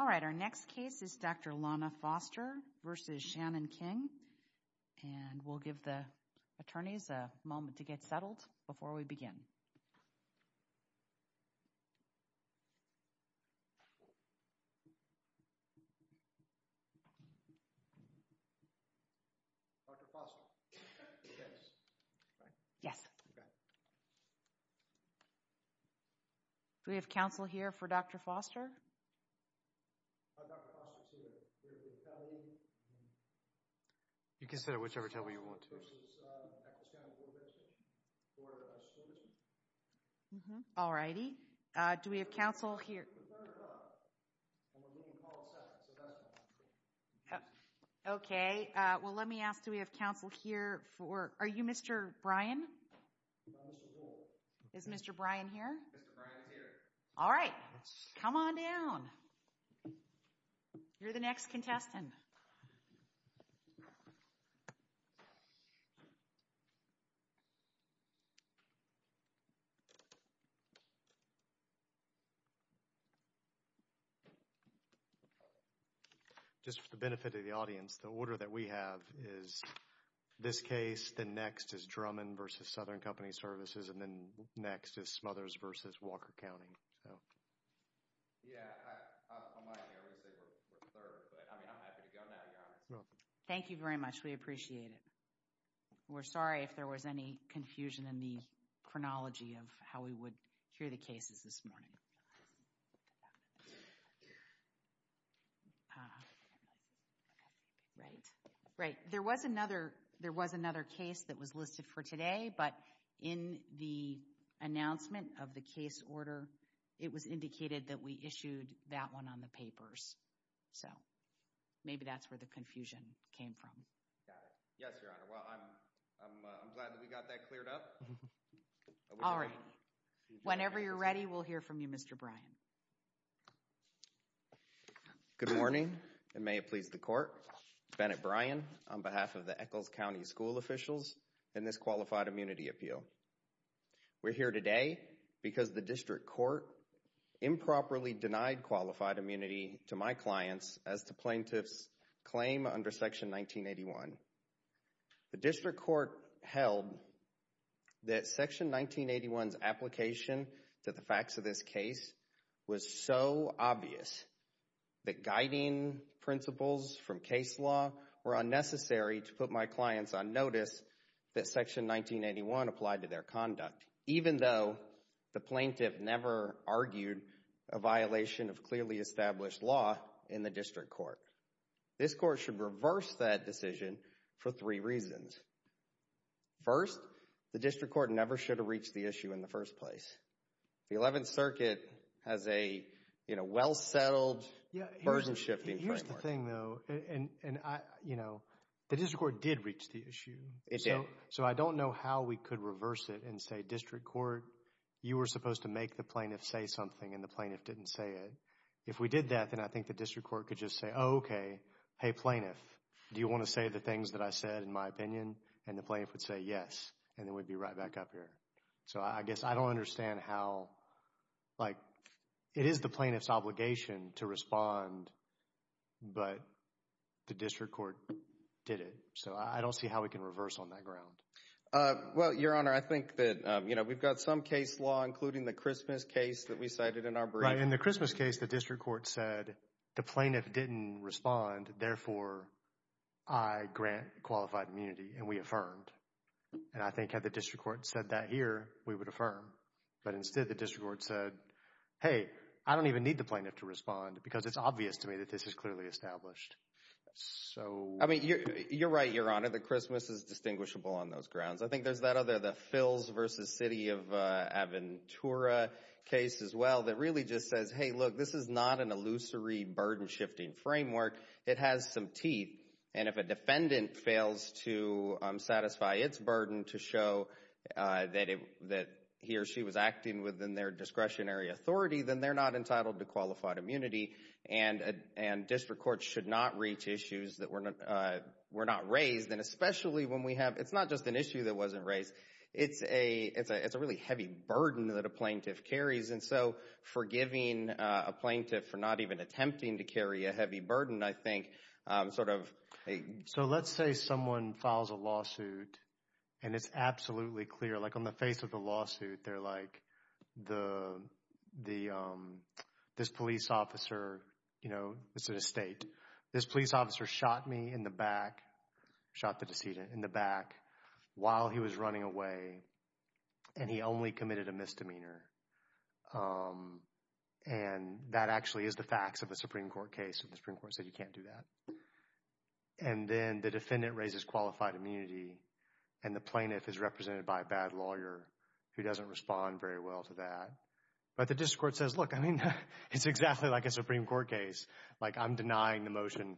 All right, our next case is Dr. Lana Foster v. Shannon King, and we'll give the attorneys a moment to get settled before we begin. Do we have counsel here for Dr. Foster? You can sit at whichever table you want to. All righty. Do we have counsel here for... Okay, well let me ask, do we have counsel here for... Are you Mr. Brian? Is Mr. Brian here? Mr. Brian's here. All right. Come on down. You're the next contestant. Just for the benefit of the audience, the order that we have is this case, then next is Drummond v. Southern Company Services, and then next is Smothers v. Walker County. Yeah, I'm not going to say we're third, but I mean I'm happy to go now, Your Honor. Thank you very much. We appreciate it. We're sorry if there was any confusion in the chronology of how we would hear the cases this morning. Right, right. There was another case that was listed for today, but in the announcement of the case order, it was indicated that we issued that one on the papers, so maybe that's where the confusion came from. Got it. Yes, Your Honor. Well, I'm glad that we got that cleared up. All right. Whenever you're ready, we'll hear from you, Mr. Brian. Good morning, and may it please the Court, Bennett Brian on behalf of the Eccles County school officials and this Qualified Immunity Appeal. We're here today because the district court improperly denied qualified immunity to my clients as to plaintiff's claim under Section 1981. The district court held that Section 1981's application to the facts of this case was so obvious that guiding principles from case law were unnecessary to put my clients on notice that Section 1981 applied to their conduct, even though the plaintiff never argued a violation of clearly established law in the district court. This court should reverse that decision for three reasons. First, the district court never should have reached the issue in the first place. The Eleventh Circuit has a well-settled burden-shifting framework. Here's the thing, though. The district court did reach the issue, so I don't know how we could reverse it and say, district court, you were supposed to make the plaintiff say something, and the plaintiff didn't say it. If we did that, then I think the district court could just say, oh, okay, hey, plaintiff, do you want to say the things that I said in my opinion? And the plaintiff would say yes, and then we'd be right back up here. So I guess I don't understand how, like, it is the plaintiff's obligation to respond, but the district court did it. So I don't see how we can reverse on that ground. Well, Your Honor, I think that, you know, we've got some case law, including the Christmas case that we cited in our brief. Right. In the Christmas case, the district court said the plaintiff didn't respond, therefore, I grant qualified immunity, and we affirmed. And I think had the district court said that here, we would affirm. But instead, the district court said, hey, I don't even need the plaintiff to respond because it's obvious to me that this is clearly established. So... I mean, you're right, Your Honor. The Christmas is distinguishable on those grounds. I think there's that other, the Philz versus City of Aventura case as well that really just says, hey, look, this is not an illusory burden-shifting framework. It has some teeth. And if a defendant fails to satisfy its burden to show that he or she was acting within their discretionary authority, then they're not entitled to qualified immunity. And district courts should not reach issues that were not raised, and especially when we have... It's not just an issue that wasn't raised. It's a really heavy burden that a plaintiff carries. And so, forgiving a plaintiff for not even attempting to carry a heavy burden, I think, sort of... So, let's say someone files a lawsuit and it's absolutely clear, like on the face of the lawsuit, they're like, this police officer, you know, it's an estate. This police officer shot me in the back, shot the decedent in the back while he was running away, and he only committed a misdemeanor. And that actually is the facts of a Supreme Court case if the Supreme Court said you can't do that. And then the defendant raises qualified immunity, and the plaintiff is represented by a bad lawyer who doesn't respond very well to that. But the district court says, look, I mean, it's exactly like a Supreme Court case. Like, I'm denying the motion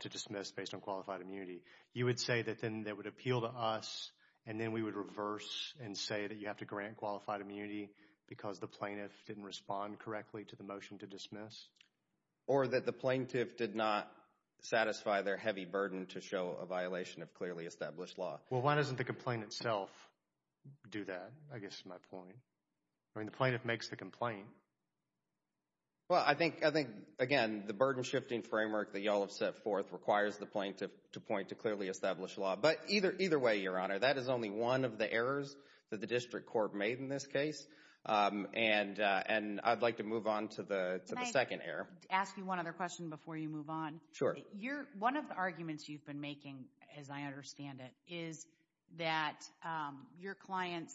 to dismiss based on qualified immunity. You would say that then that would appeal to us, and then we would reverse and say that you have to grant qualified immunity because the plaintiff didn't respond correctly to the motion to dismiss? Or that the plaintiff did not satisfy their heavy burden to show a violation of clearly established law. Well, why doesn't the complaint itself do that, I guess is my point. I mean, the plaintiff makes the complaint. Well, I think, again, the burden-shifting framework that you all have set forth requires the plaintiff to point to clearly established law. But either way, Your Honor, that is only one of the errors that the district court made in this case. And I'd like to move on to the second error. Can I ask you one other question before you move on? Sure. One of the arguments you've been making, as I understand it, is that your clients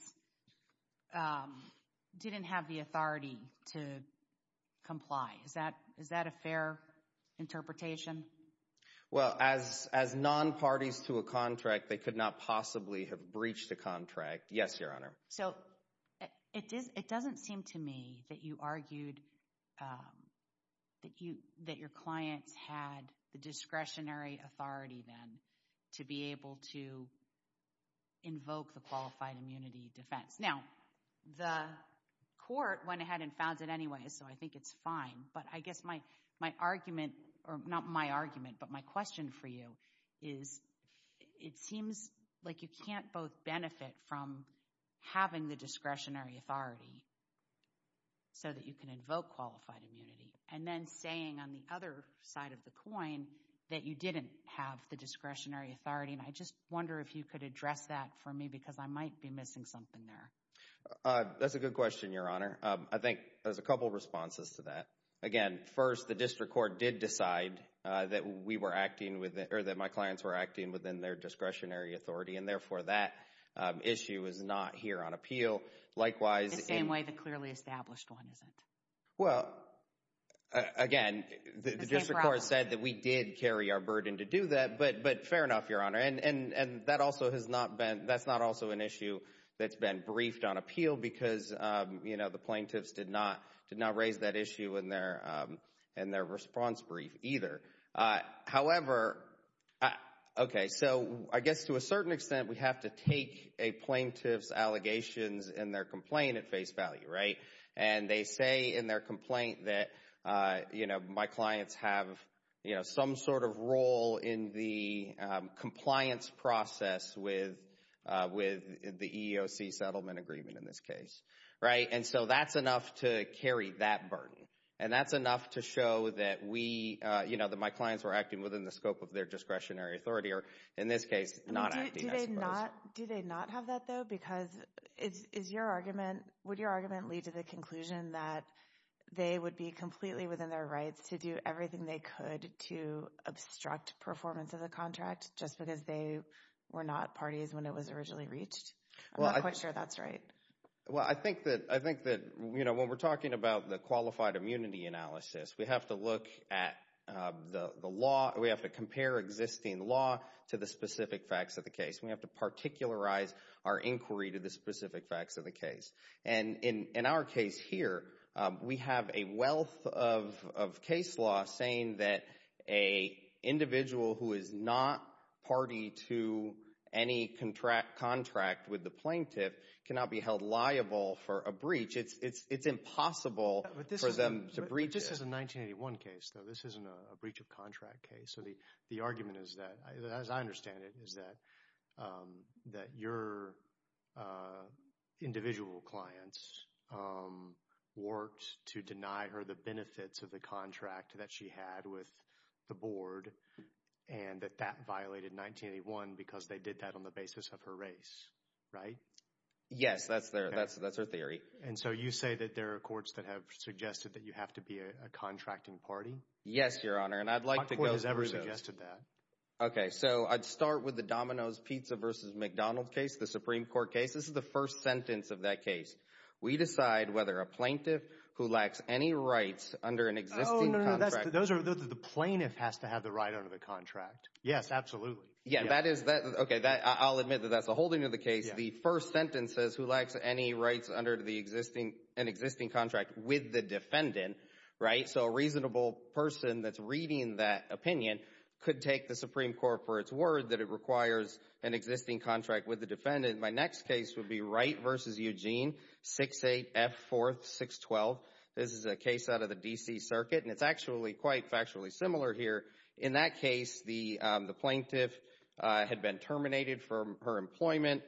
didn't have the authority to comply. Is that a fair interpretation? Well, as non-parties to a contract, they could not possibly have breached the contract. Yes, Your Honor. So it doesn't seem to me that you argued that your clients had the discretionary authority then to be able to invoke the qualified immunity defense. Now, the court went ahead and found it anyway, so I think it's fine. But I guess my argument, or not my argument, but my question for you is, it seems like you can't both benefit from having the discretionary authority so that you can invoke qualified immunity, and then saying on the other side of the coin that you didn't have the discretionary authority. And I just wonder if you could address that for me, because I might be missing something there. That's a good question, Your Honor. I think there's a couple of responses to that. Again, first, the district court did decide that we were acting, or that my clients were acting within their discretionary authority, and therefore that issue is not here on appeal. Likewise, in- The same way the clearly established one isn't. Well, again, the district court said that we did carry our burden to do that, but fair enough, Your Honor. And that's not also an issue that's been briefed on appeal, because the plaintiffs did not raise that issue in their response brief either. However, okay, so I guess to a certain extent, we have to take a plaintiff's allegations in their complaint at face value, right? And they say in their complaint that, you know, my clients have, you know, some sort of role in the compliance process with the EEOC settlement agreement in this case, right? And so that's enough to carry that burden. And that's enough to show that we, you know, that my clients were acting within the scope of their discretionary authority, or in this case, not acting, I suppose. Do they not have that, though? Because is your argument, would your argument lead to the conclusion that they would be completely within their rights to do everything they could to obstruct performance of the contract just because they were not parties when it was originally reached? I'm not quite sure that's right. Well, I think that, you know, when we're talking about the qualified immunity analysis, we have to look at the law, we have to compare existing law to the specific facts of the case. We have to particularize our inquiry to the specific facts of the case. And in our case here, we have a wealth of case law saying that a individual who is not party to any contract with the plaintiff cannot be held liable for a breach. It's impossible for them to breach it. This is a 1981 case, though. This isn't a breach of contract case. So the argument is that, as I understand it, is that your individual clients worked to deny her the benefits of the contract that she had with the board and that that violated 1981 because they did that on the basis of her race, right? Yes, that's their theory. And so you say that there are courts that have suggested that you have to be a contracting party? Yes, Your Honor. And I'd like to go through those. What court has ever suggested that? Okay, so I'd start with the Domino's Pizza versus McDonald's case, the Supreme Court case. This is the first sentence of that case. We decide whether a plaintiff who lacks any rights under an existing contract... Oh, no, no. Those are... The plaintiff has to have the right under the contract. Yes, absolutely. Yeah, that is... Okay, I'll admit that that's a holding of the case. The first sentence says, who lacks any rights under an existing contract with the defendant, right? And so a reasonable person that's reading that opinion could take the Supreme Court for its word that it requires an existing contract with the defendant. My next case would be Wright versus Eugene, 6-8 F. 4th, 6-12. This is a case out of the D.C. Circuit, and it's actually quite factually similar here. In that case, the plaintiff had been terminated from her employment.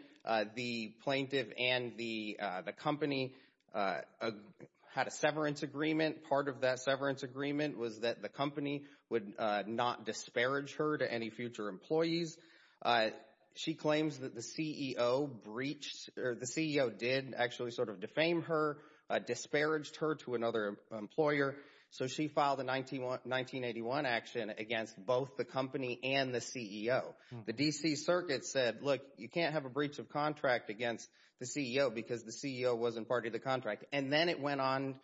The plaintiff and the company had a severance agreement. Part of that severance agreement was that the company would not disparage her to any future employees. She claims that the CEO breached, or the CEO did actually sort of defame her, disparaged her to another employer, so she filed a 1981 action against both the company and the CEO. The D.C. Circuit said, look, you can't have a breach of contract against the CEO because the CEO wasn't part of the contract. And then it went on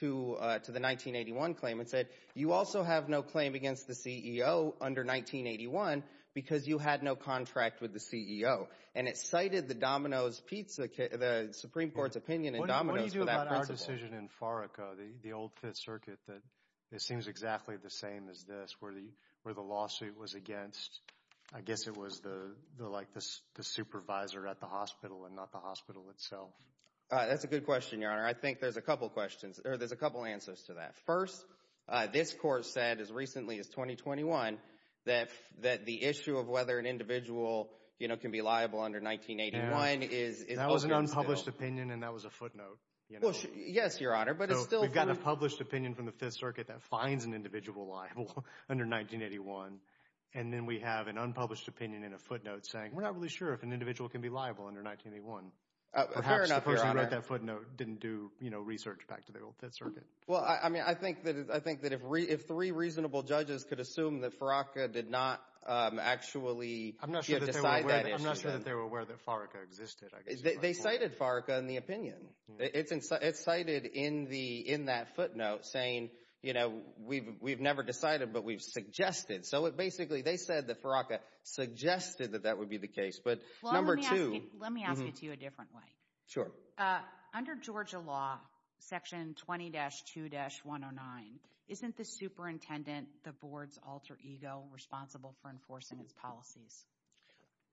to the 1981 claim and said, you also have no claim against the CEO under 1981 because you had no contract with the CEO. And it cited the Domino's Pizza, the Supreme Court's opinion in Domino's for that principle. What do you do about our decision in Farico, the old Fifth Circuit that seems exactly the same as this, where the lawsuit was against, I guess it was the supervisor at the hospital and not the hospital itself? That's a good question, Your Honor. I think there's a couple questions, or there's a couple answers to that. First, this court said as recently as 2021 that the issue of whether an individual can be liable under 1981 is open and still. That was an unpublished opinion and that was a footnote, you know? Well, yes, Your Honor, but it's still... So we've got a published opinion from the Fifth Circuit that finds an individual liable under 1981, and then we have an unpublished opinion in a footnote saying, we're not really sure if an individual can be liable under 1981. Fair enough, Your Honor. I'm not sure that you read that footnote, didn't do research back to the old Fifth Circuit. Well, I mean, I think that if three reasonable judges could assume that Faraca did not actually decide that issue... I'm not sure that they were aware that Farica existed, I guess you might call it. They cited Farica in the opinion. It's cited in that footnote saying, you know, we've never decided, but we've suggested. So it basically, they said that Faraca suggested that that would be the case. But number two... Well, let me ask it to you a different way. Sure. Under Georgia law, section 20-2-109, isn't the superintendent, the board's alter ego responsible for enforcing its policies?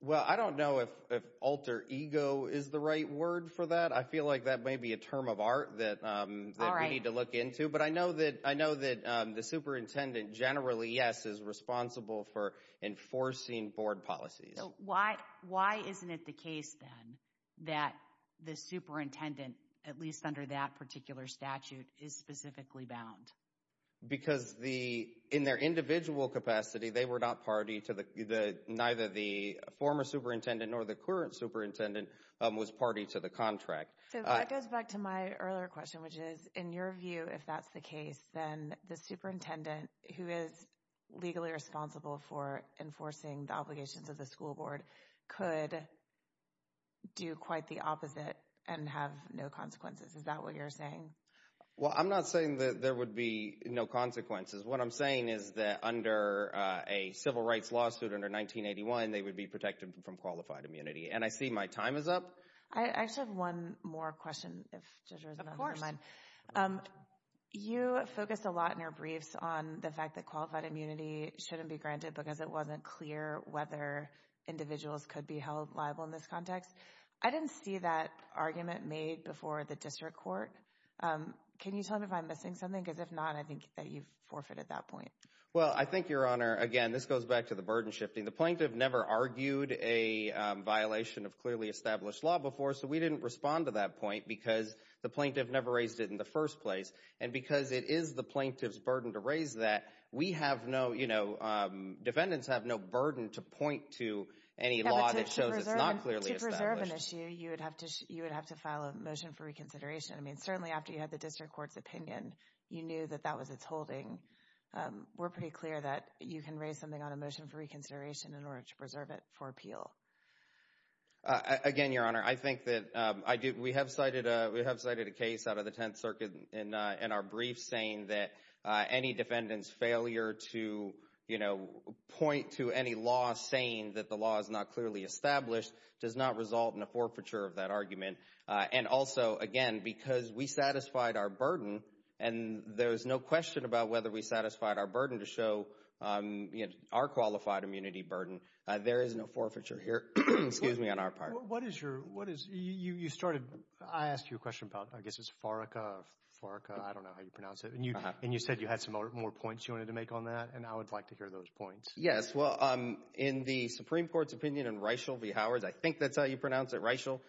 Well, I don't know if alter ego is the right word for that. I feel like that may be a term of art that we need to look into. But I know that the superintendent generally, yes, is responsible for enforcing board policies. So why isn't it the case then that the superintendent, at least under that particular statute, is specifically bound? Because in their individual capacity, they were not party to the, neither the former superintendent nor the current superintendent was party to the contract. So that goes back to my earlier question, which is, in your view, if that's the case, then the superintendent, who is legally responsible for enforcing the obligations of the school board, could do quite the opposite and have no consequences. Is that what you're saying? Well, I'm not saying that there would be no consequences. What I'm saying is that under a civil rights lawsuit under 1981, they would be protected from qualified immunity. And I see my time is up. I just have one more question, if Judge Rosen doesn't mind. You focused a lot in your briefs on the fact that qualified immunity shouldn't be granted because it wasn't clear whether individuals could be held liable in this context. I didn't see that argument made before the district court. Can you tell me if I'm missing something? Because if not, I think that you've forfeited that point. Well, I think, Your Honor, again, this goes back to the burden shifting. The plaintiff never argued a violation of clearly established law before, so we didn't respond to that point because the plaintiff never raised it in the first place. And because it is the plaintiff's burden to raise that, we have no, you know, defendants have no burden to point to any law that shows it's not clearly established. Yeah, but to preserve an issue, you would have to file a motion for reconsideration. I mean, certainly after you had the district court's opinion, you knew that that was its We're pretty clear that you can raise something on a motion for reconsideration in order to preserve it for appeal. Again, Your Honor, I think that we have cited a case out of the Tenth Circuit in our brief saying that any defendant's failure to, you know, point to any law saying that the law is not clearly established does not result in a forfeiture of that argument. And also, again, because we satisfied our burden, and there is no question about whether we satisfied our burden to show, you know, our qualified immunity burden, there is no forfeiture here, excuse me, on our part. What is your, what is, you started, I asked you a question about, I guess it's Faraka, Faraka, I don't know how you pronounce it, and you said you had some more points you wanted to make on that, and I would like to hear those points. Yes, well, in the Supreme Court's opinion in Reichel v. Howard, I think that's how you pronounce it, Reichel,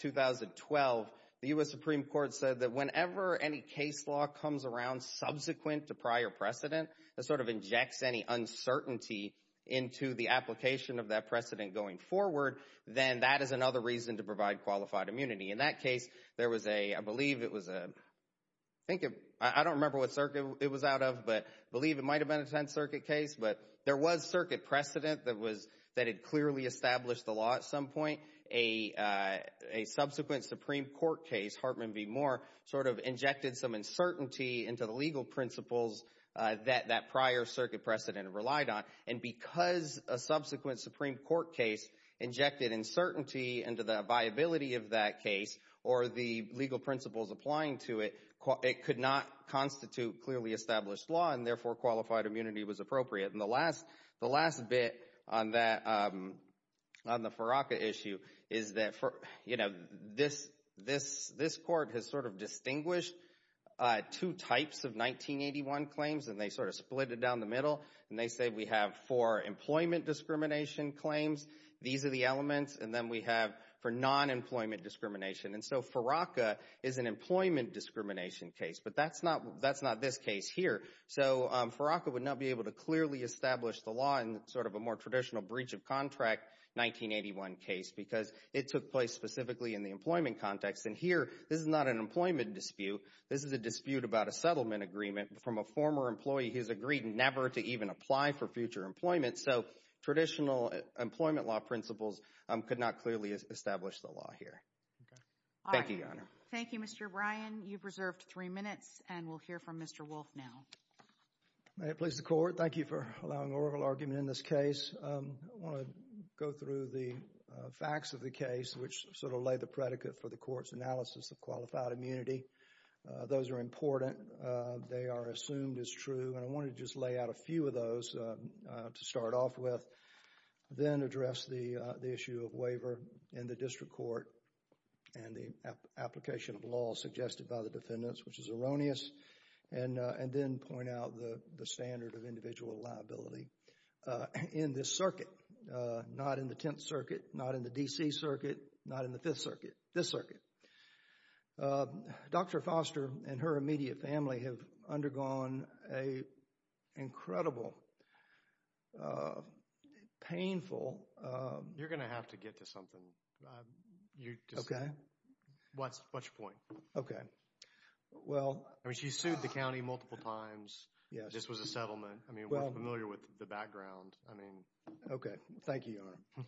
2012, the U.S. Supreme Court said that whenever any case law comes around subsequent to prior precedent, that sort of injects any uncertainty into the application of that precedent going forward, then that is another reason to provide qualified immunity. In that case, there was a, I believe it was a, I think it, I don't remember what circuit it was out of, but I believe it might have been a Tenth Circuit case, but there was circuit precedent that was, that had clearly established the law at some point. A subsequent Supreme Court case, Hartman v. Moore, sort of injected some uncertainty into the legal principles that that prior circuit precedent relied on, and because a subsequent Supreme Court case injected uncertainty into the viability of that case, or the legal principles applying to it, it could not constitute clearly established law, and therefore qualified immunity was appropriate. And the last, the last bit on that, on the Farraka issue, is that for, you know, this, this court has sort of distinguished two types of 1981 claims, and they sort of split it down the middle, and they say we have four employment discrimination claims, these are the elements, and then we have for non-employment discrimination, and so Farraka is an employment discrimination case, but that's not, that's not this case here, so Farraka would not be able to clearly establish the law in sort of a more traditional breach of contract 1981 case, because it took place specifically in the employment context, and here, this is not an employment dispute, this is a dispute about a settlement agreement from a former employee who's agreed never to even apply for future employment, so traditional employment law principles could not clearly establish the law here. Okay. Thank you, Your Honor. All right. Thank you, Mr. Bryan. You've reserved three minutes, and we'll hear from Mr. Wolf now. May it please the Court, thank you for allowing oral argument in this case. I want to go through the facts of the case, which sort of lay the predicate for the Court's analysis of qualified immunity. Those are important. They are assumed as true, and I want to just lay out a few of those to start off with, then address the issue of waiver in the district court, and the application of law suggested by the defendants, which is erroneous, and then point out the standard of individual liability in this circuit. Not in the Tenth Circuit, not in the D.C. Circuit, not in the Fifth Circuit, this circuit. Dr. Foster and her immediate family have undergone an incredible, painful... You're going to have to get to something. You just... Okay. What's your point? Okay. Well... I mean, she sued the county multiple times. Yes. This was a settlement. Well... I mean, we're familiar with the background. I mean... Okay. Thank you, Your Honor.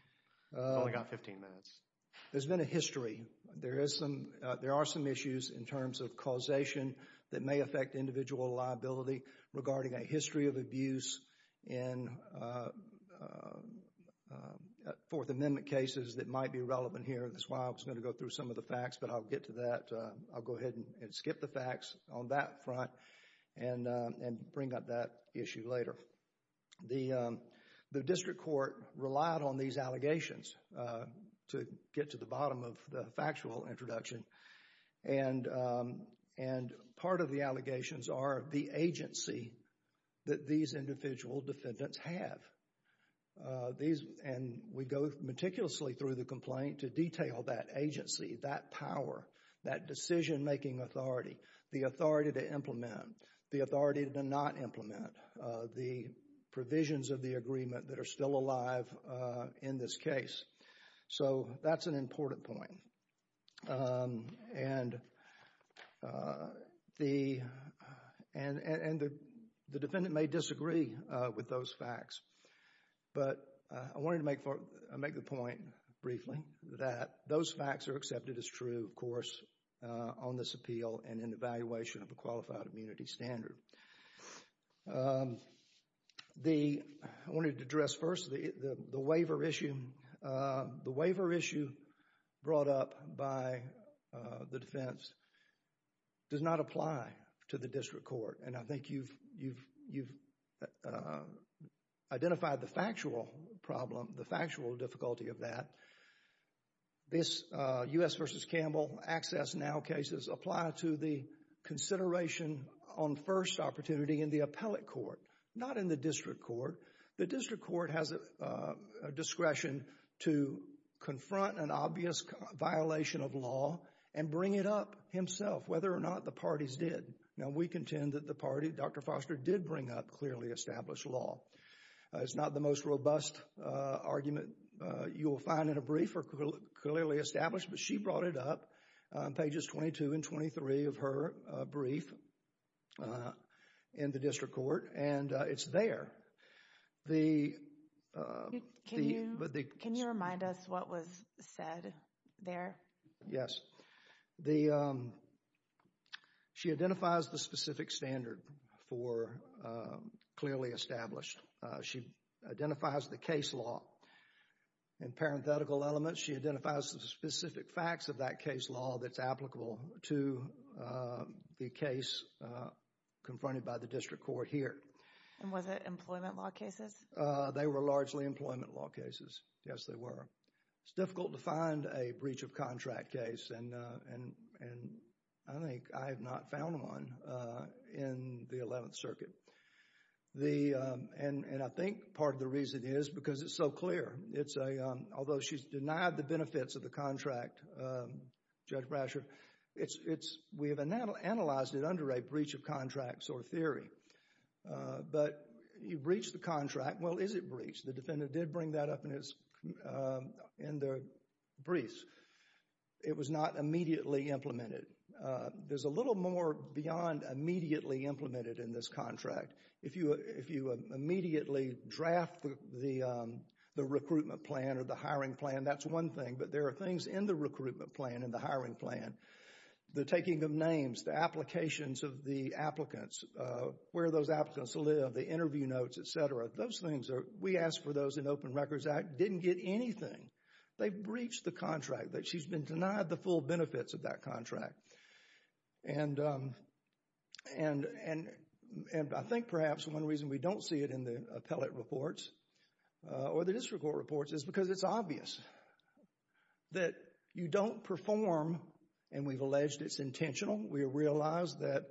You've only got 15 minutes. There's been a history. There is some... There are some issues in terms of causation that may affect individual liability regarding a history of abuse in Fourth Amendment cases that might be relevant here. That's why I was going to go through some of the facts, but I'll get to that. I'll go ahead and skip the facts on that front and bring up that issue later. The district court relied on these allegations to get to the bottom of the factual introduction. Part of the allegations are the agency that these individual defendants have. These... And we go meticulously through the complaint to detail that agency, that power, that decision-making authority, the authority to implement, the authority to not implement, the provisions of the agreement that are still alive in this case. So that's an important point. And the defendant may disagree with those facts, but I wanted to make the point briefly that those facts are accepted as true, of course, on this appeal and in evaluation of a qualified immunity standard. I wanted to address first the waiver issue. The waiver issue brought up by the defense does not apply to the district court. And I think you've identified the factual problem, the factual difficulty of that. This U.S. v. Campbell Access Now cases apply to the consideration on first opportunity in the appellate court, not in the district court. The district court has a discretion to confront an obvious violation of law and bring it up himself, whether or not the parties did. Now, we contend that the party, Dr. Foster, did bring up clearly established law. It's not the most robust argument you'll find in a brief or clearly established, but she brought it up on pages 22 and 23 of her brief in the district court, and it's there. Can you remind us what was said there? Yes. She identifies the specific standard for clearly established. She identifies the case law and parenthetical elements. She identifies the specific facts of that case law that's applicable to the case confronted by the district court here. And was it employment law cases? They were largely employment law cases. Yes, they were. It's difficult to find a breach of contract case, and I think I have not found one in the 11th Circuit. And I think part of the reason is because it's so clear. It's a, although she's denied the benefits of the contract, Judge Brasher, it's, it's, we have analyzed it under a breach of contracts or theory. But you breach the contract, well, is it breached? The defendant did bring that up in his, in their briefs. It was not immediately implemented. There's a little more beyond immediately implemented in this contract. If you, if you immediately draft the, the, the recruitment plan or the hiring plan, that's one thing. But there are things in the recruitment plan and the hiring plan. The taking of names, the applications of the applicants, where those applicants live, the interview notes, et cetera. Those things are, we asked for those in Open Records Act, didn't get anything. They breached the contract that she's been denied the full benefits of that contract. And, and, and I think perhaps one reason we don't see it in the appellate reports or the district court reports is because it's obvious that you don't perform, and we've alleged it's intentional. We realize that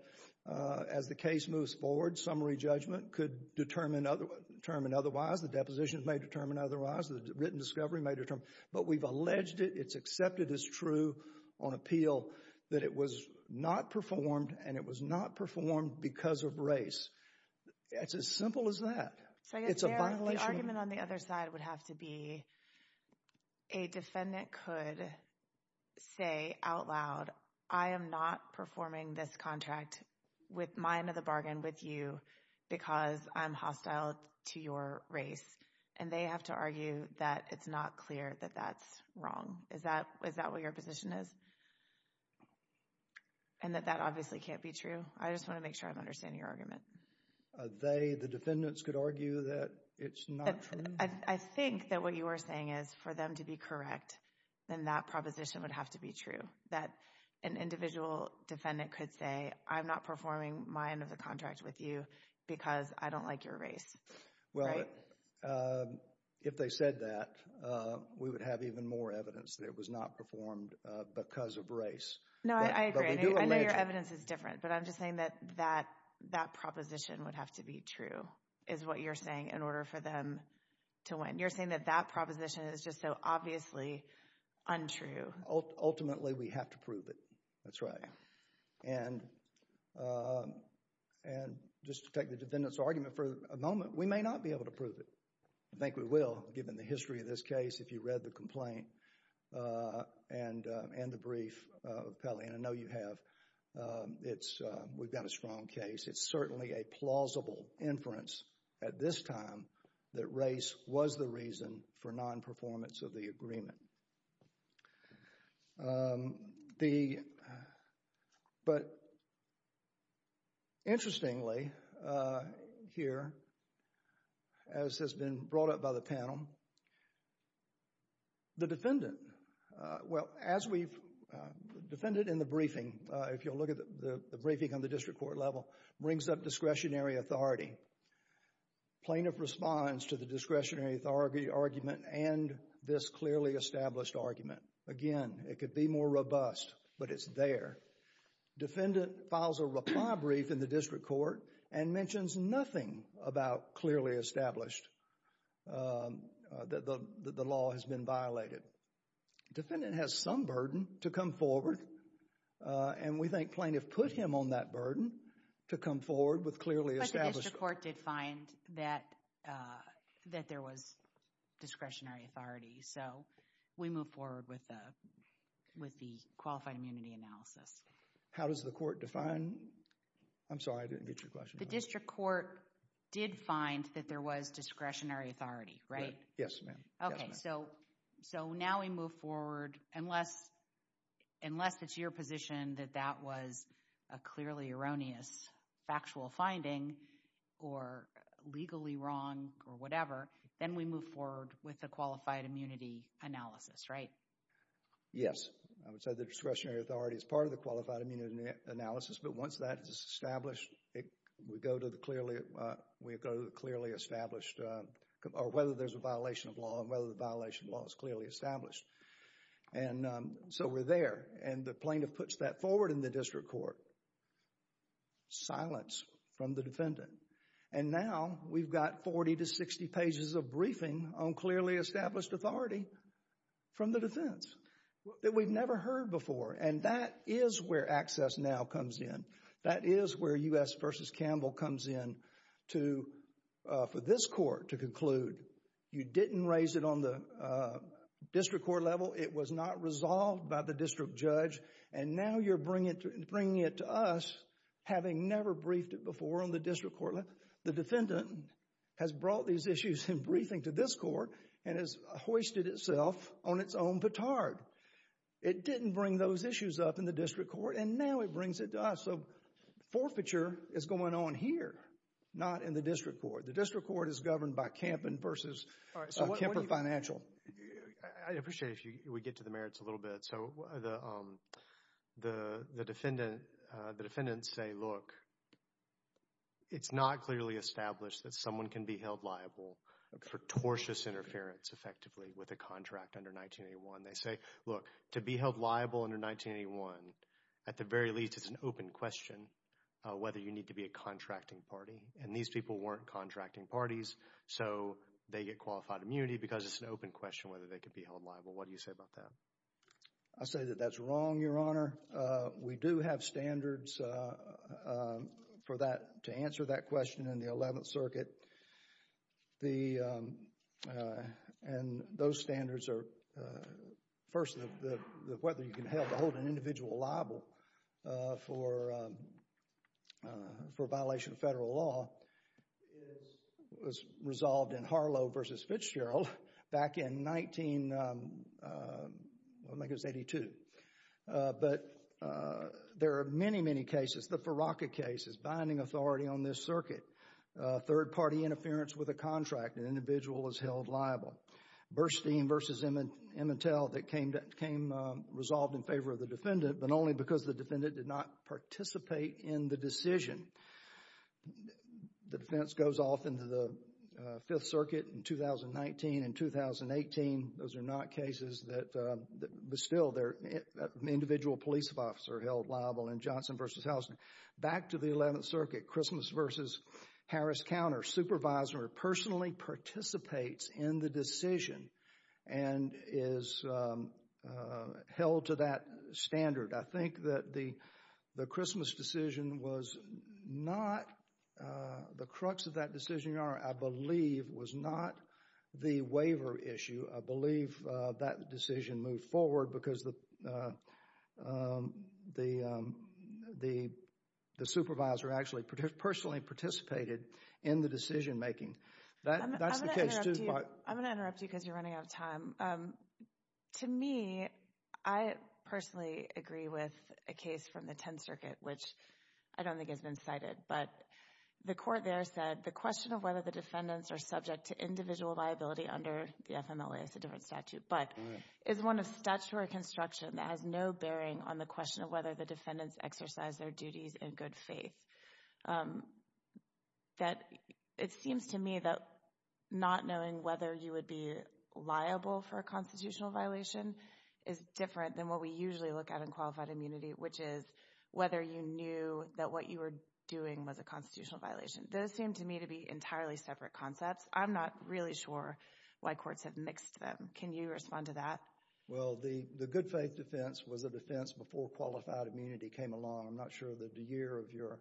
as the case moves forward, summary judgment could determine other, determine otherwise. The depositions may determine otherwise. The written discovery may determine, but we've alleged it. It's accepted as true on appeal that it was not performed, and it was not performed because of race. It's as simple as that. It's a violation. So I guess there, the argument on the other side would have to be a defendant could say out loud, I am not performing this contract with my end of the bargain with you because I'm hostile to your race. And they have to argue that it's not clear that that's wrong. Is that, is that what your position is? And that that obviously can't be true? I just want to make sure I'm understanding your argument. Are they, the defendants could argue that it's not true? I think that what you are saying is for them to be correct, then that proposition would have to be true. That an individual defendant could say, I'm not performing my end of the contract with you because I don't like your race. Right? Well, if they said that, we would have even more evidence that it was not performed because of race. No, I agree. I know your evidence is different, but I'm just saying that that, that proposition would have to be true, is what you're saying, in order for them to win. You're saying that that proposition is just so obviously untrue. Ultimately, we have to prove it, that's right. And, and just to take the defendant's argument for a moment, we may not be able to prove it. I think we will, given the history of this case, if you read the complaint and, and the brief of Pelley, and I know you have. It's we've got a strong case. It's certainly a plausible inference at this time that race was the reason for non-performance of the agreement. The, but interestingly, here, as has been brought up by the panel, the defendant, well, as we've, the defendant in the briefing, if you'll look at the briefing on the district court level, brings up discretionary authority. Plaintiff responds to the discretionary authority argument and this clearly established argument. Again, it could be more robust, but it's there. Defendant files a reply brief in the district court and mentions nothing about clearly established, the law has been violated. Defendant has some burden to come forward, and we think plaintiff put him on that burden to come forward with clearly established. But the district court did find that, that there was discretionary authority. So we move forward with the, with the qualified immunity analysis. How does the court define, I'm sorry, I didn't get your question. The district court did find that there was discretionary authority, right? Yes, ma'am. Okay. So, so now we move forward, unless, unless it's your position that that was a clearly erroneous factual finding or legally wrong or whatever, then we move forward with the qualified immunity analysis, right? Yes. I would say the discretionary authority is part of the qualified immunity analysis. But once that is established, we go to the clearly, we go to the clearly established, or whether there's a violation of law and whether the violation of law is clearly established. And so we're there. And the plaintiff puts that forward in the district court, silence from the defendant. And now we've got 40 to 60 pages of briefing on clearly established authority from the defense that we've never heard before. And that is where Access Now comes in. That is where U.S. v. Campbell comes in to, for this court to conclude, you didn't raise it on the district court level. It was not resolved by the district judge. And now you're bringing it to us, having never briefed it before on the district court. The defendant has brought these issues in briefing to this court and has hoisted itself on its own petard. It didn't bring those issues up in the district court and now it brings it to us. So forfeiture is going on here, not in the district court. The district court is governed by Campbell versus Kemper Financial. I appreciate if we get to the merits a little bit. So the defendant, the defendants say, look, it's not clearly established that someone can be held liable for tortious interference effectively with a contract under 1981. They say, look, to be held liable under 1981, at the very least, it's an open question whether you need to be a contracting party. And these people weren't contracting parties. So they get qualified immunity because it's an open question whether they could be held What do you say about that? I say that that's wrong, Your Honor. We do have standards for that, to answer that question in the 11th Circuit. The, and those standards are, first, whether you can hold an individual liable for a violation of federal law was resolved in Harlow versus Fitzgerald back in 19, I think it was 82. But there are many, many cases, the Farraka cases, binding authority on this circuit. Third-party interference with a contract, an individual is held liable. Burstein versus Emmettell that came, came resolved in favor of the defendant, but only because the defendant did not participate in the decision. The defense goes off into the Fifth Circuit in 2019 and 2018. Those are not cases that, but still there, an individual police officer held liable in Johnson versus Houston. Back to the 11th Circuit, Christmas versus Harris-Counter, supervisor personally participates in the decision and is held to that standard. I think that the Christmas decision was not, the crux of that decision, Your Honor, I believe was not the waiver issue. I believe that decision moved forward because the, the, the, the supervisor actually personally participated in the decision-making. That's the case too, but. I'm going to interrupt you, I'm going to interrupt you because you're running out of time. To me, I personally agree with a case from the 10th Circuit, which I don't think has been cited, but the court there said the question of whether the defendants are subject to individual liability under the FMLA, it's a different statute, but is one of statutory construction that has no bearing on the question of whether the defendants exercise their duties in good faith. That it seems to me that not knowing whether you would be liable for a constitutional violation is different than what we usually look at in qualified immunity, which is whether you knew that what you were doing was a constitutional violation. Those seem to me to be entirely separate concepts. I'm not really sure why courts have mixed them. Can you respond to that? Well, the, the good faith defense was a defense before qualified immunity came along. I'm not sure of the year of your,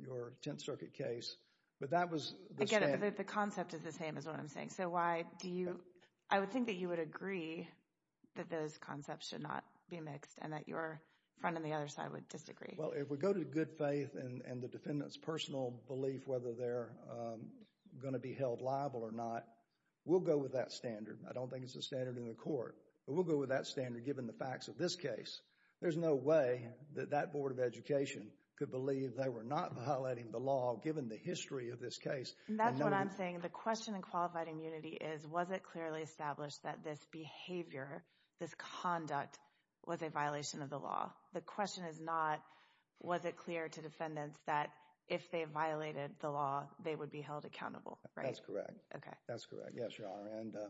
your 10th Circuit case, but that was the same. Again, the concept is the same is what I'm saying. So why do you, I would think that you would agree that those concepts should not be mixed and that your friend on the other side would disagree. Well, if we go to good faith and the defendant's personal belief, whether they're going to be held liable or not, we'll go with that standard. I don't think it's a standard in the court, but we'll go with that standard given the facts of this case. There's no way that that Board of Education could believe they were not violating the law given the history of this case. And that's what I'm saying. The question in qualified immunity is, was it clearly established that this behavior, this conduct was a violation of the law? The question is not, was it clear to defendants that if they violated the law, they would be held accountable? Right? That's correct. Okay. That's correct. Yes, Your Honor.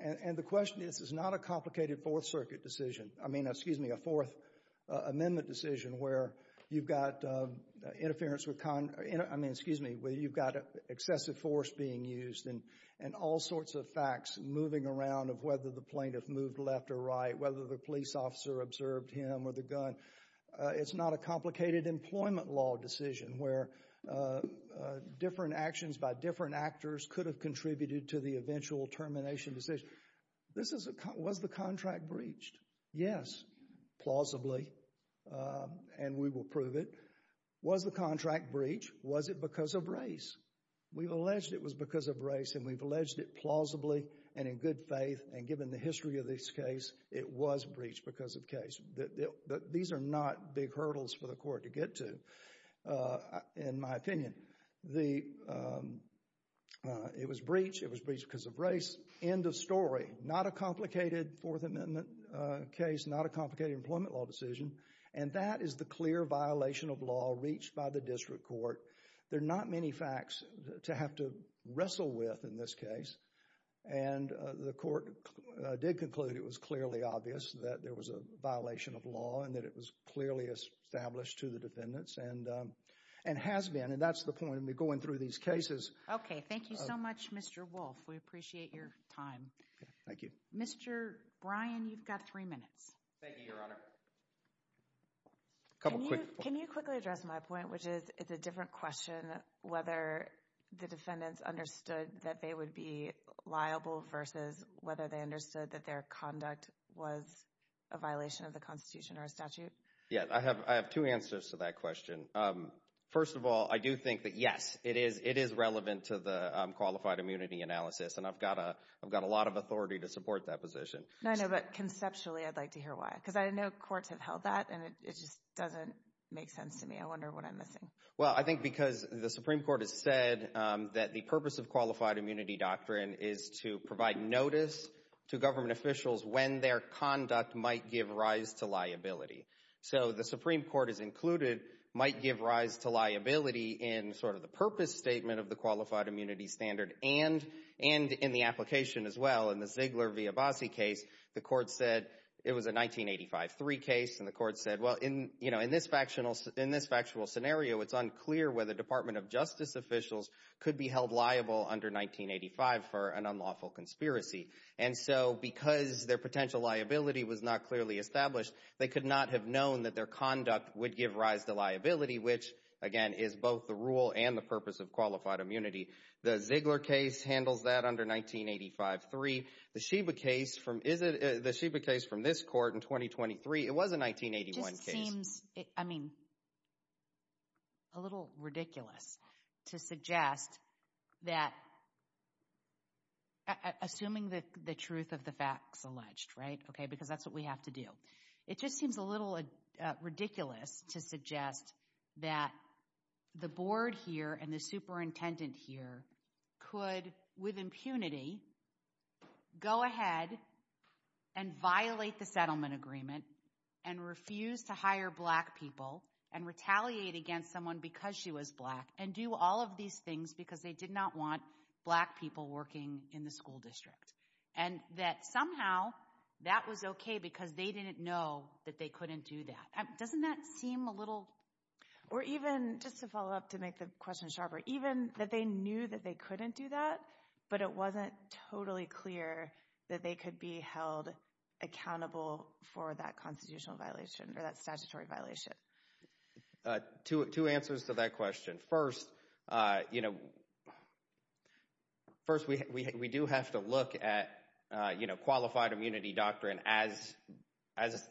And the question is, this is not a complicated Fourth Circuit decision. I mean, excuse me, a Fourth Amendment decision where you've got interference with, I mean, excuse me, where you've got excessive force being used and all sorts of facts moving around of whether the plaintiff moved left or right, whether the police officer observed him or the gun. It's not a complicated employment law decision where different actions by different actors could have contributed to the eventual termination decision. This is a, was the contract breached? Yes, plausibly, and we will prove it. Was the contract breached? Was it because of race? We've alleged it was because of race and we've alleged it plausibly and in good faith and given the history of this case, it was breached because of case. These are not big hurdles for the court to get to, in my opinion. It was breached. It was breached because of race. End of story. Not a complicated Fourth Amendment case, not a complicated employment law decision, and that is the clear violation of law reached by the district court. There are not many facts to have to wrestle with in this case. And the court did conclude it was clearly obvious that there was a violation of law and that it was clearly established to the defendants and has been, and that's the point of me going through these cases. Okay. Thank you so much, Mr. Wolf. We appreciate your time. Thank you. Mr. Bryan, you've got three minutes. Thank you, Your Honor. Can you quickly address my point, which is it's a different question whether the defendants understood that they would be liable versus whether they understood that their conduct was a violation of the Constitution or a statute? Yeah, I have two answers to that question. First of all, I do think that, yes, it is relevant to the qualified immunity analysis, and I've got a lot of authority to support that position. No, I know, but conceptually, I'd like to hear why, because I know courts have held that and it just doesn't make sense to me. I wonder what I'm missing. Well, I think because the Supreme Court has said that the purpose of qualified immunity doctrine is to provide notice to government officials when their conduct might give rise to liability. So the Supreme Court has included might give rise to liability in sort of the purpose statement of the qualified immunity standard and in the application as well. In the Ziegler v. Abbasi case, the court said it was a 1985-3 case, and the court said, well, in this factual scenario, it's unclear whether Department of Justice officials could be held liable under 1985 for an unlawful conspiracy. And so because their potential liability was not clearly established, they could not have known that their conduct would give rise to liability, which, again, is both the rule and the purpose of qualified immunity. The Ziegler case handles that under 1985-3. The Schieber case from this court in 2023, it was a 1981 case. It just seems, I mean, a little ridiculous to suggest that, assuming the truth of the facts alleged, right? Okay, because that's what we have to do. It just seems a little ridiculous to suggest that the board here and the superintendent here could, with impunity, go ahead and violate the settlement agreement and refuse to hire black people and retaliate against someone because she was black and do all of these things because they did not want black people working in the school district, and that somehow that was okay because they didn't know that they couldn't do that. Doesn't that seem a little... Or even, just to follow up to make the question sharper, even that they knew that they couldn't do that, but it wasn't totally clear that they could be held accountable for that constitutional violation or that statutory violation? Two answers to that question. First, you know, first, we do have to look at, you know, qualified immunity doctrine as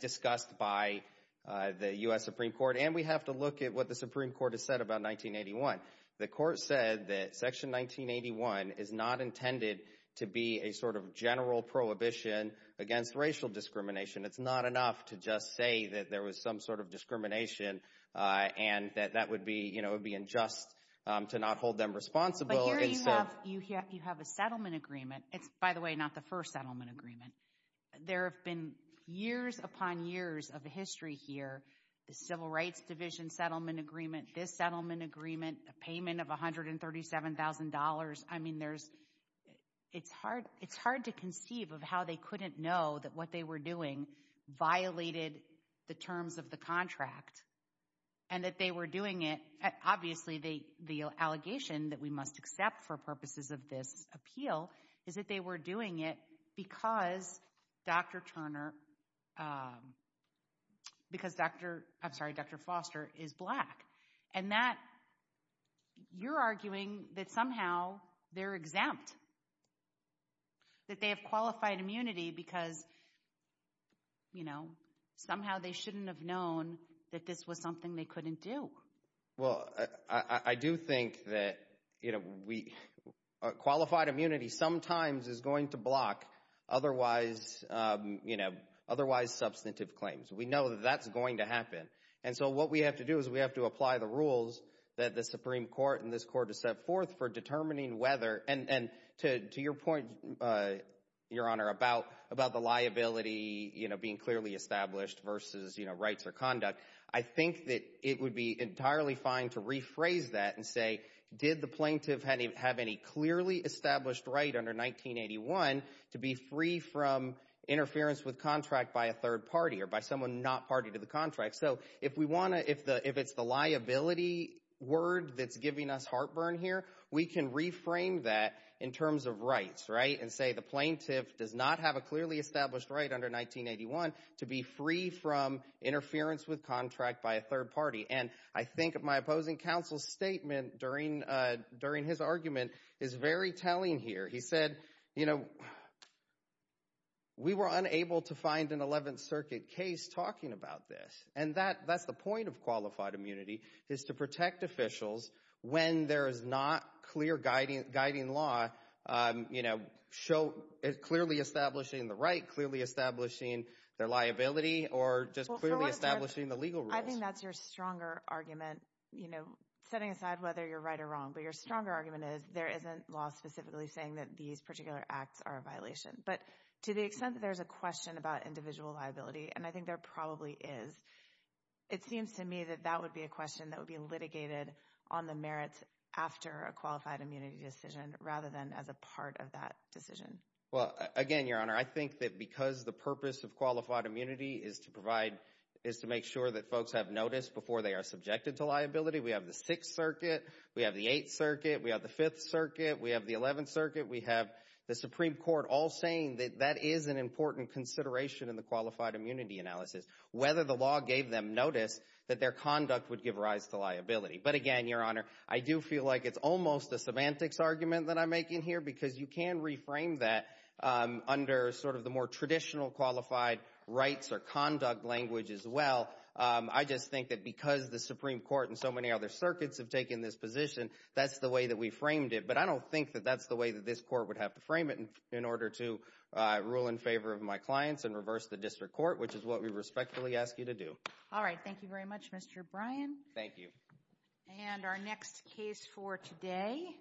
discussed by the U.S. Supreme Court, and we have to look at what the Supreme Court has said about 1981. The court said that Section 1981 is not intended to be a sort of general prohibition against racial discrimination. It's not enough to just say that there was some sort of discrimination and that that would be, you know, it would be unjust to not hold them responsible. But here you have a settlement agreement. It's, by the way, not the first settlement agreement. There have been years upon years of history here, the Civil Rights Division settlement agreement, this settlement agreement, a payment of $137,000. I mean, there's... It's hard to conceive of how they couldn't know that what they were doing violated the terms of the contract and that they were doing it. Obviously, the allegation that we must accept for purposes of this appeal is that they were doing it because Dr. Turner, because Dr., I'm sorry, Dr. Foster is black. And that, you're arguing that somehow they're exempt, that they have qualified immunity because, you know, somehow they shouldn't have known that this was something they couldn't do. Well, I do think that, you know, we... Qualified immunity sometimes is going to block otherwise, you know, otherwise substantive claims. We know that that's going to happen. And so what we have to do is we have to apply the rules that the Supreme Court and this court has set forth for determining whether, and to your point, Your Honor, about the liability, you know, being clearly established versus, you know, rights or conduct. I think that it would be entirely fine to rephrase that and say, did the plaintiff have any clearly established right under 1981 to be free from interference with contract by a third party or by someone not party to the contract? So if we want to, if it's the liability word that's giving us heartburn here, we can reframe that in terms of rights, right? And say the plaintiff does not have a clearly established right under 1981 to be free from interference with contract by a third party. And I think my opposing counsel's statement during his argument is very telling here. He said, you know, we were unable to find an 11th Circuit case talking about this. And that's the point of qualified immunity is to protect officials when there is not clear guiding law, you know, clearly establishing the right, clearly establishing their liability or just clearly establishing the legal rules. I think that's your stronger argument, you know, setting aside whether you're right or wrong, but your stronger argument is there isn't law specifically saying that these particular acts are a violation. But to the extent that there's a question about individual liability, and I think there probably is, it seems to me that that would be a question that would be litigated on the merits after a qualified immunity decision rather than as a part of that decision. Well, again, Your Honor, I think that because the purpose of qualified immunity is to provide, is to make sure that folks have noticed before they are subjected to liability. We have the 6th Circuit, we have the 8th Circuit, we have the 5th Circuit, we have the 11th Circuit, we have the Supreme Court all saying that that is an important consideration in the qualified immunity analysis. Whether the law gave them notice that their conduct would give rise to liability. But again, Your Honor, I do feel like it's almost a semantics argument that I'm making here because you can reframe that under sort of the more traditional qualified rights or conduct language as well. I just think that because the Supreme Court and so many other circuits have taken this position, that's the way that we framed it. But I don't think that that's the way that this court would have to frame it in order to rule in favor of my clients and reverse the district court, which is what we respectfully ask you to do. All right. Thank you very much, Mr. Bryan. Thank you. And our next case for today.